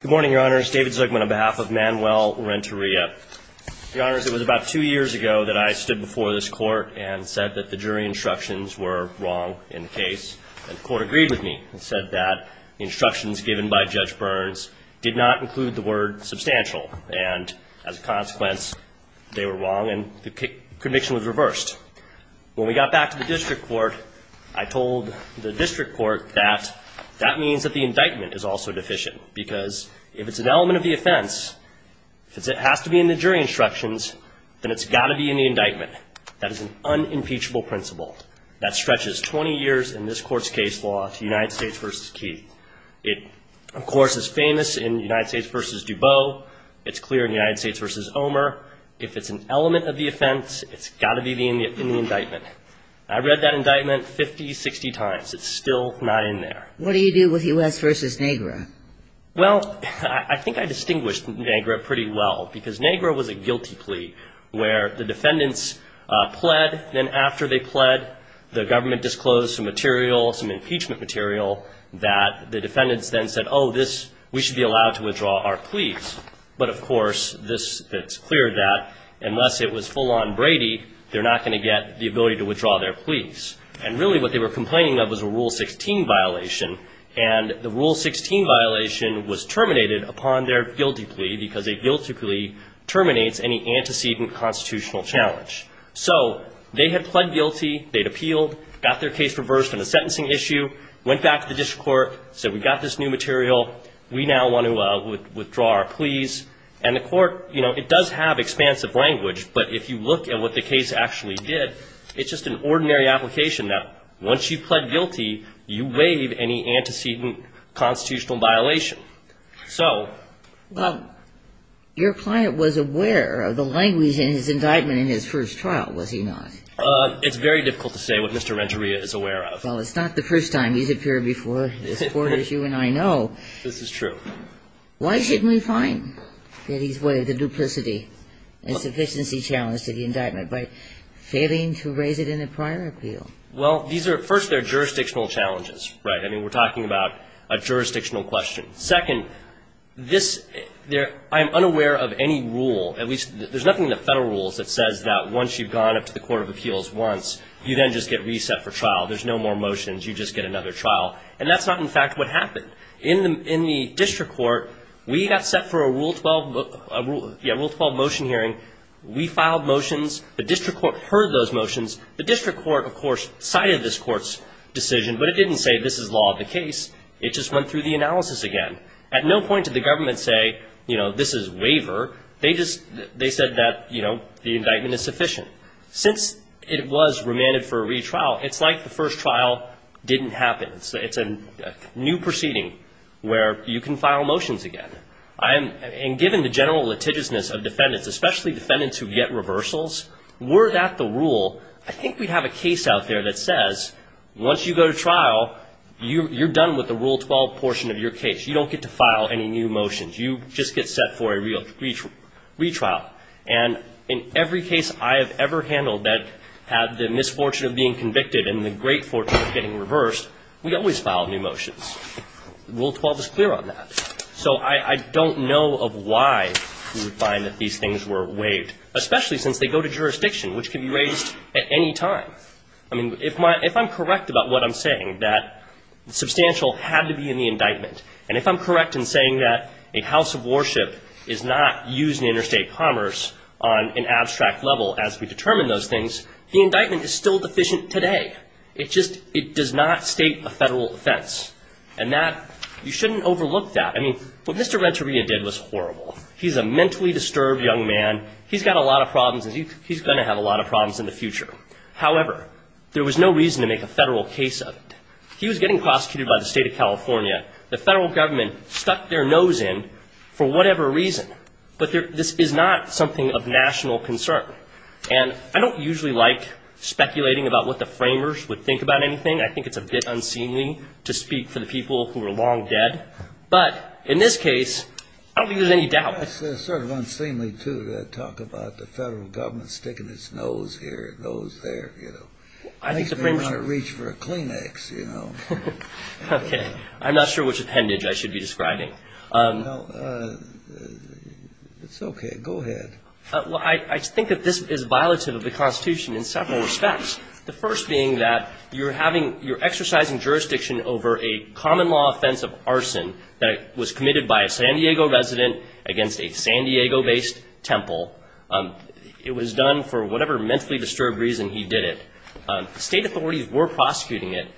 Good morning, Your Honors. David Zuckman on behalf of Manuel Renteria. Your Honors, it was about two years ago that I stood before this court and said that the jury instructions were wrong in the case. And the court agreed with me and said that the instructions given by Judge Burns did not include the word substantial. And as a consequence, they were wrong and the conviction was reversed. When we got back to the district court, I told the district court that that means that the indictment is also deficient because if it's an element of the offense, if it has to be in the jury instructions, then it's got to be in the indictment. That is an unimpeachable principle that stretches 20 years in this court's case law to United States v. Keith. It, of course, is famous in United States v. DuBose. It's clear in United States v. Omer. If it's an element of the offense, it's got to be in the indictment. I read that indictment 50, 60 times. It's still not in there. What do you do with U.S. v. Negra? Well, I think I distinguished Negra pretty well because Negra was a guilty plea where the defendants pled. Then after they pled, the government disclosed some material, some impeachment material that the defendants then said, oh, this, we should be allowed to withdraw our pleas. But, of course, this, it's clear that unless it was full-on Brady, they're not going to get the ability to withdraw their pleas. And really what they were complaining of was a Rule 16 violation. And the Rule 16 violation was terminated upon their guilty plea because a guilty plea terminates any antecedent constitutional challenge. So they had pled guilty. They'd appealed, got their case reversed on a sentencing issue, went back to the district court, said we've got this new material. We now want to withdraw our pleas. And the court, you know, it does have expansive language. But if you look at what the case actually did, it's just an ordinary application that once you pled guilty, you waive any antecedent constitutional violation. So. Well, your client was aware of the language in his indictment in his first trial, was he not? It's very difficult to say what Mr. Regeria is aware of. Well, it's not the first time he's appeared before this court issue, and I know. This is true. Why shouldn't we find that he's aware of the duplicity and sufficiency challenge to the indictment by failing to raise it in a prior appeal? Well, these are, first, they're jurisdictional challenges, right? I mean, we're talking about a jurisdictional question. Second, this, I'm unaware of any rule, at least there's nothing in the Federal Rules that says that once you've gone up to the court of appeals once, you then just get reset for trial. There's no more motions. You just get another trial. And that's not, in fact, what happened. In the district court, we got set for a Rule 12 motion hearing. We filed motions. The district court heard those motions. The district court, of course, cited this court's decision, but it didn't say this is law of the case. It just went through the analysis again. At no point did the government say, you know, this is waiver. They just, they said that, you know, the indictment is sufficient. Since it was remanded for a retrial, it's like the first trial didn't happen. It's a new proceeding where you can file motions again. And given the general litigiousness of defendants, especially defendants who get reversals, were that the rule, I think we'd have a case out there that says once you go to trial, you're done with the Rule 12 portion of your case. You don't get to file any new motions. You just get set for a retrial. And in every case I have ever handled that had the misfortune of being convicted and the great fortune of getting reversed, we always filed new motions. Rule 12 is clear on that. So I don't know of why you would find that these things were waived, especially since they go to jurisdiction, which can be raised at any time. I mean, if I'm correct about what I'm saying, that substantial had to be in the indictment. And if I'm correct in saying that a house of worship is not used in interstate commerce on an abstract level as we determine those things, the indictment is still deficient today. It just does not state a federal offense. And you shouldn't overlook that. I mean, what Mr. Renteria did was horrible. He's a mentally disturbed young man. He's got a lot of problems, and he's going to have a lot of problems in the future. However, there was no reason to make a federal case of it. He was getting prosecuted by the state of California. The federal government stuck their nose in for whatever reason. But this is not something of national concern. And I don't usually like speculating about what the framers would think about anything. I think it's a bit unseemly to speak for the people who are long dead. But in this case, I don't think there's any doubt. It's sort of unseemly, too, to talk about the federal government sticking its nose here and nose there, you know. Okay. I'm not sure which appendage I should be describing. It's okay. Go ahead. I think that this is violative of the Constitution in several respects, the first being that you're exercising jurisdiction over a common law offense of arson that was committed by a San Diego resident against a San Diego-based temple. It was done for whatever mentally disturbed reason he did it. State authorities were prosecuting it.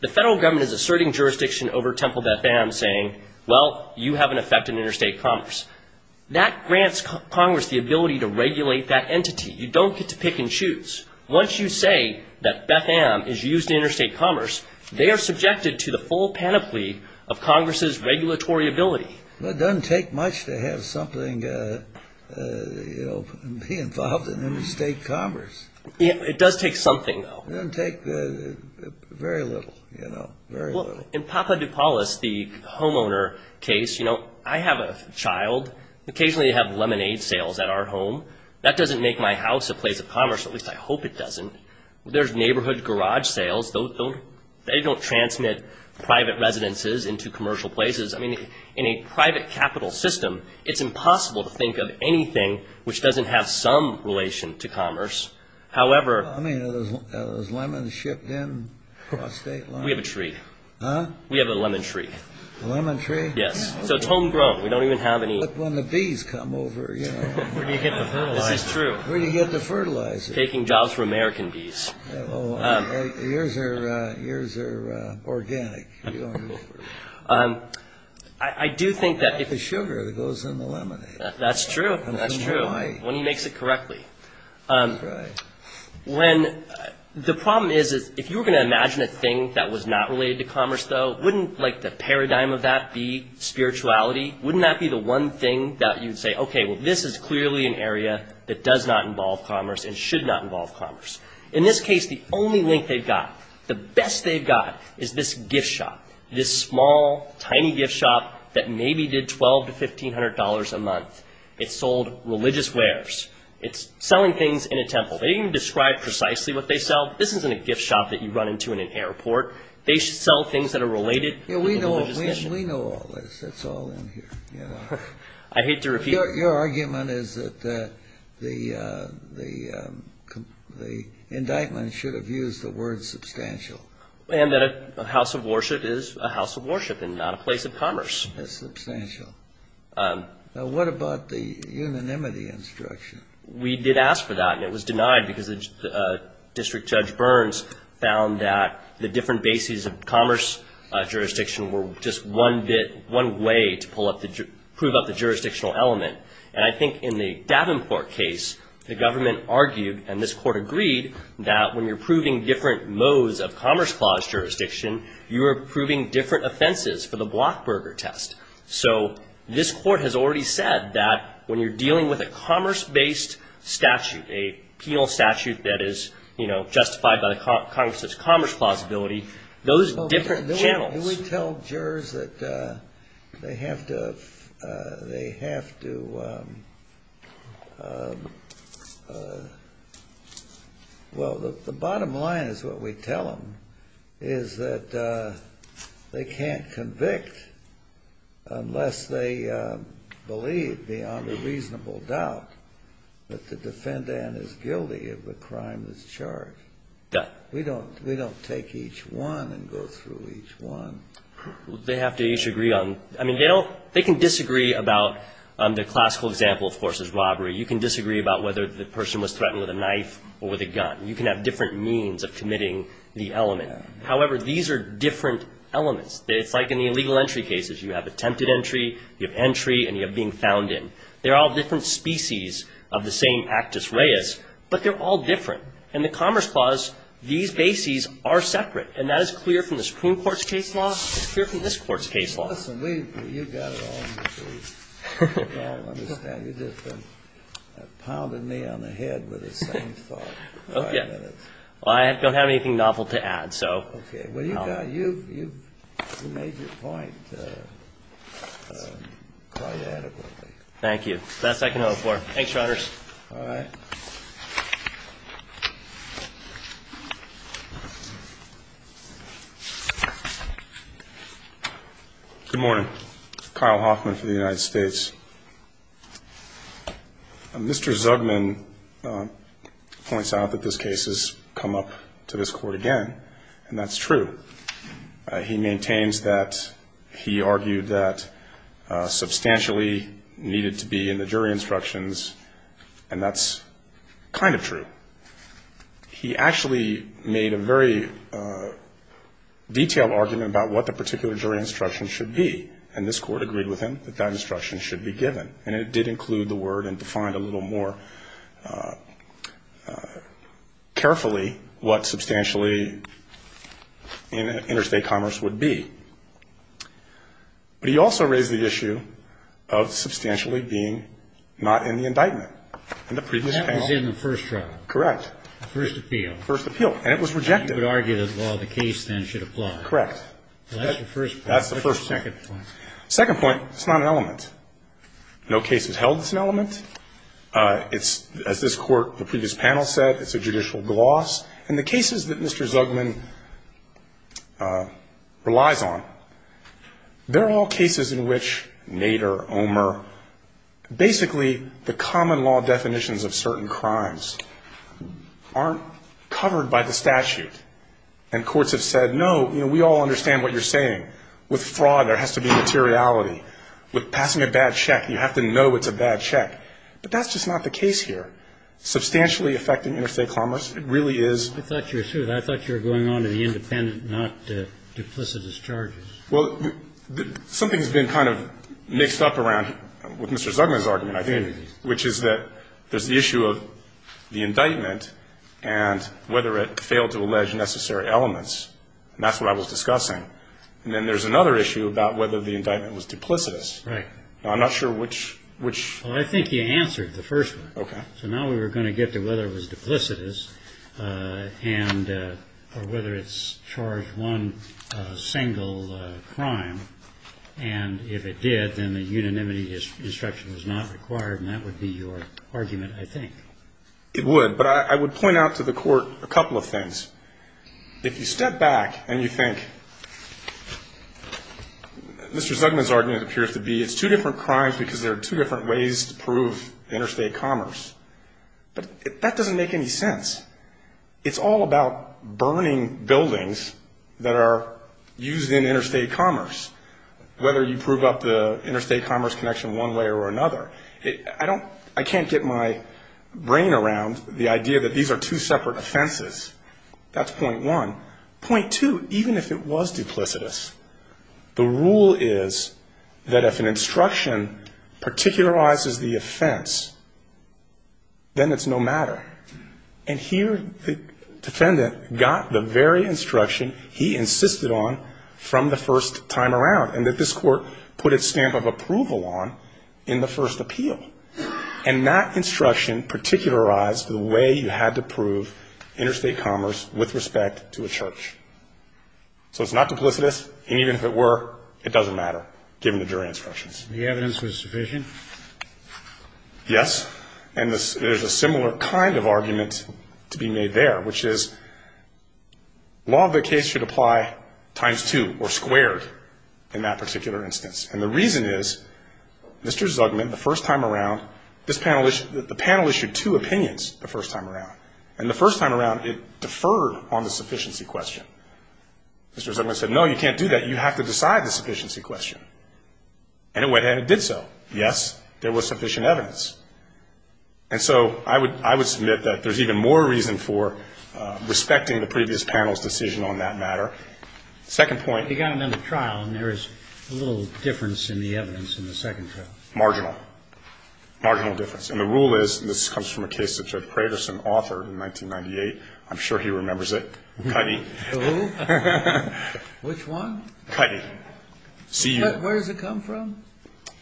The federal government is asserting jurisdiction over Temple Beth-Am saying, well, you have an effect in interstate commerce. That grants Congress the ability to regulate that entity. You don't get to pick and choose. Once you say that Beth-Am is used in interstate commerce, they are subjected to the full panoply of Congress's regulatory ability. It doesn't take much to have something, you know, be involved in interstate commerce. It does take something, though. It doesn't take very little, you know, very little. Well, in Papa DuPalis, the homeowner case, you know, I have a child. Occasionally they have lemonade sales at our home. That doesn't make my house a place of commerce, at least I hope it doesn't. There's neighborhood garage sales. They don't transmit private residences into commercial places. I mean, in a private capital system, I mean, are those lemons shipped in across state lines? We have a tree. Huh? We have a lemon tree. A lemon tree? Yes. So it's homegrown. We don't even have any. When the bees come over, you know. Where do you get the fertilizer? This is true. Where do you get the fertilizer? Taking jobs from American bees. Well, yours are organic. I like the sugar that goes in the lemonade. That's true. That's true. When he makes it correctly. Right. The problem is if you were going to imagine a thing that was not related to commerce, though, wouldn't, like, the paradigm of that be spirituality? Wouldn't that be the one thing that you'd say, okay, well, this is clearly an area that does not involve commerce and should not involve commerce. In this case, the only link they've got, the best they've got, is this gift shop, this small, tiny gift shop that maybe did $1,200 to $1,500 a month. It sold religious wares. It's selling things in a temple. They didn't describe precisely what they sell. This isn't a gift shop that you run into in an airport. They sell things that are related to the religious mission. We know all this. It's all in here. I hate to repeat it. Your argument is that the indictment should have used the word substantial. And that a house of worship is a house of worship and not a place of commerce. It's substantial. Now, what about the unanimity instruction? We did ask for that, and it was denied because District Judge Burns found that the different bases of commerce jurisdiction were just one way to prove up the jurisdictional element. And I think in the Davenport case, the government argued, and this court agreed, that when you're proving different modes of commerce clause jurisdiction, you are proving different offenses for the Blockburger test. So this court has already said that when you're dealing with a commerce-based statute, a penal statute that is, you know, justified by the Congress's commerce plausibility, those different channels. Do we tell jurors that they have to, well, the bottom line is what we tell them, is that they can't convict unless they believe, beyond a reasonable doubt, that the defendant is guilty of the crime that's charged. We don't take each one and go through each one. They have to each agree on, I mean, they can disagree about the classical example, of course, is robbery. You can disagree about whether the person was threatened with a knife or with a gun. You can have different means of committing the element. However, these are different elements. It's like in the illegal entry cases. You have attempted entry, you have entry, and you have being found in. They're all different species of the same actus reus, but they're all different. In the Commerce Clause, these bases are separate. And that is clear from the Supreme Court's case law. It's clear from this Court's case law. Kennedy, you've got it all in between. I don't understand. You've just been pounding me on the head with the same thought for five minutes. Well, I don't have anything novel to add, so. Okay. Well, you've made your point quite adequately. Thank you. That's all I can offer. Thanks, Your Honors. All right. Mr. Zugman. Good morning. Kyle Hoffman for the United States. Mr. Zugman points out that this case has come up to this Court again, and that's true. He maintains that he argued that substantially needed to be in the jury instructions, and that's kind of true. He actually made a very detailed argument about what the particular jury instruction should be, and this Court agreed with him that that instruction should be given. And it did include the word and defined a little more carefully what substantially interstate commerce would be. But he also raised the issue of substantially being not in the indictment. That was in the first trial. Correct. The first appeal. First appeal. And it was rejected. You would argue that the law of the case then should apply. Correct. That's the first point. That's the first thing. What's the second point? Second point, it's not an element. No case is held as an element. It's, as this Court, the previous panel said, it's a judicial gloss. And the cases that Mr. Zugman relies on, they're all cases in which Nader, Omer, basically the common law definitions of certain crimes aren't covered by the statute. And courts have said, no, you know, we all understand what you're saying. With fraud, there has to be materiality. With passing a bad check, you have to know it's a bad check. But that's just not the case here. Substantially affecting interstate commerce, it really is. I thought you were going on to the independent, not duplicitous charges. Well, something has been kind of mixed up around with Mr. Zugman's argument, I think, which is that there's the issue of the indictment and whether it failed to allege necessary elements. And that's what I was discussing. And then there's another issue about whether the indictment was duplicitous. Right. I'm not sure which. Well, I think you answered the first one. Okay. So now we were going to get to whether it was duplicitous or whether it's charged one single crime. And if it did, then the unanimity instruction was not required, and that would be your argument, I think. It would. But I would point out to the Court a couple of things. If you step back and you think, Mr. Zugman's argument appears to be it's two different crimes because there are two different ways to prove interstate commerce. But that doesn't make any sense. It's all about burning buildings that are used in interstate commerce, whether you prove up the interstate commerce connection one way or another. I can't get my brain around the idea that these are two separate offenses. That's point one. Point two, even if it was duplicitous, the rule is that if an instruction particularizes the offense, then it's no matter. And here the defendant got the very instruction he insisted on from the first time around, and that this Court put its stamp of approval on in the first appeal. And that instruction particularized the way you had to prove interstate commerce with respect to a church. So it's not duplicitous, and even if it were, it doesn't matter, given the jury instructions. The evidence was sufficient? Yes. And there's a similar kind of argument to be made there, which is law of the case should apply times two or squared in that particular instance. And the reason is Mr. Zugman, the first time around, the panel issued two opinions the first time around, and the first time around it deferred on the sufficiency question. Mr. Zugman said, no, you can't do that. You have to decide the sufficiency question. And it went ahead and did so. Yes, there was sufficient evidence. And so I would submit that there's even more reason for respecting the previous panel's decision on that matter. Second point. You got them in the trial, and there is a little difference in the evidence in the second trial. Marginal. Marginal difference. And the rule is, and this comes from a case that Judge Craterson authored in 1998. I'm sure he remembers it. Cutty. Who? Which one? Cutty. Where does it come from?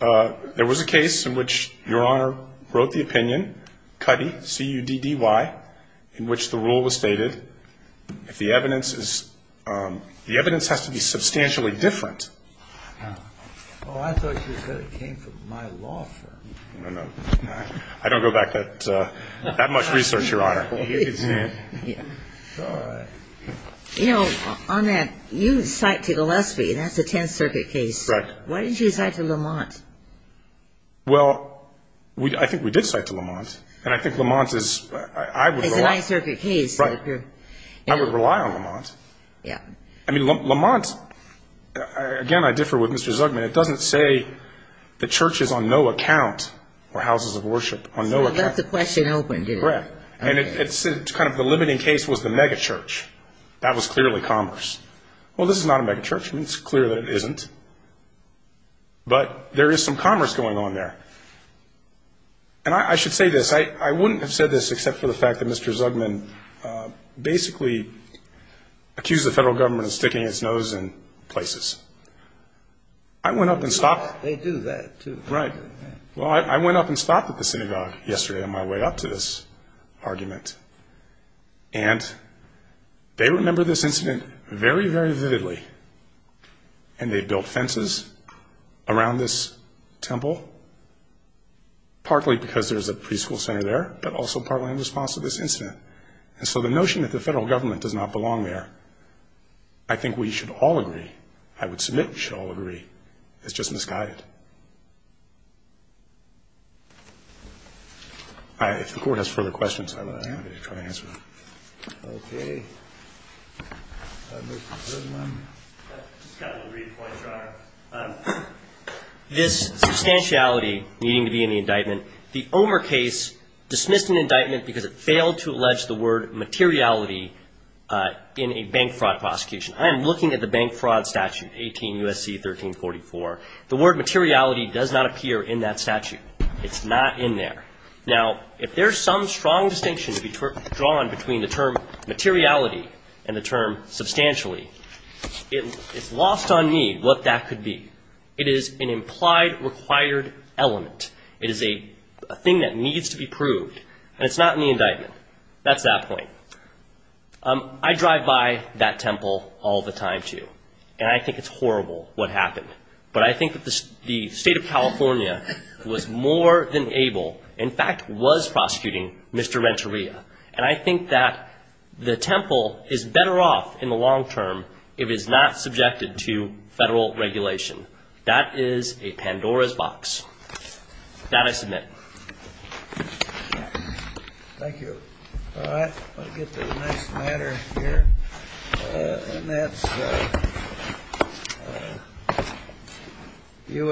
There was a case in which Your Honor wrote the opinion, Cutty, C-U-D-D-Y, in which the rule was stated, if the evidence is, the evidence has to be substantially different. Oh, I thought you said it came from my law firm. No, no. I don't go back that much research, Your Honor. It's all right. You know, on that, you cite to Gillespie, that's a Tenth Circuit case. Correct. Why didn't you cite to Lamont? Well, I think we did cite to Lamont, and I think Lamont is, I would rely. It's a Ninth Circuit case. Right. I would rely on Lamont. Yeah. I mean, Lamont, again, I differ with Mr. Zugman. It doesn't say the church is on no account, or houses of worship, on no account. So it left the question open, did it? Correct. And it's kind of the limiting case was the megachurch. That was clearly commerce. Well, this is not a megachurch. I mean, it's clear that it isn't. But there is some commerce going on there. And I should say this. I wouldn't have said this except for the fact that Mr. Zugman basically accused the federal government of sticking its nose in places. I went up and stopped. They do that, too. Right. Well, I went up and stopped at the synagogue yesterday on my way up to this argument. And they remember this incident very, very vividly. And they built fences around this temple, partly because there's a preschool center there, but also partly in response to this incident. And so the notion that the federal government does not belong there, I think we should all agree, I would submit we should all agree, is just misguided. If the Court has further questions, I'm happy to try to answer them. Okay. I'll move to the third one. I just got a little read of the points, Your Honor. This substantiality needing to be in the indictment, the Omer case dismissed an indictment because it failed to allege the word materiality in a bank fraud prosecution. I am looking at the bank fraud statute, 18 U.S.C. 1344. The word materiality does not appear in that statute. It's not in there. Now, if there's some strong distinction to be drawn between the term materiality and the term substantially, it's lost on me what that could be. It is an implied required element. It is a thing that needs to be proved, and it's not in the indictment. That's that point. I drive by that temple all the time, too, and I think it's horrible what happened. But I think that the State of California was more than able, in fact, was prosecuting Mr. Renteria, and I think that the temple is better off in the long term if it's not subjected to federal regulation. That is a Pandora's box. That I submit. Thank you. All right. I'll get to the next matter here, and that's U.S.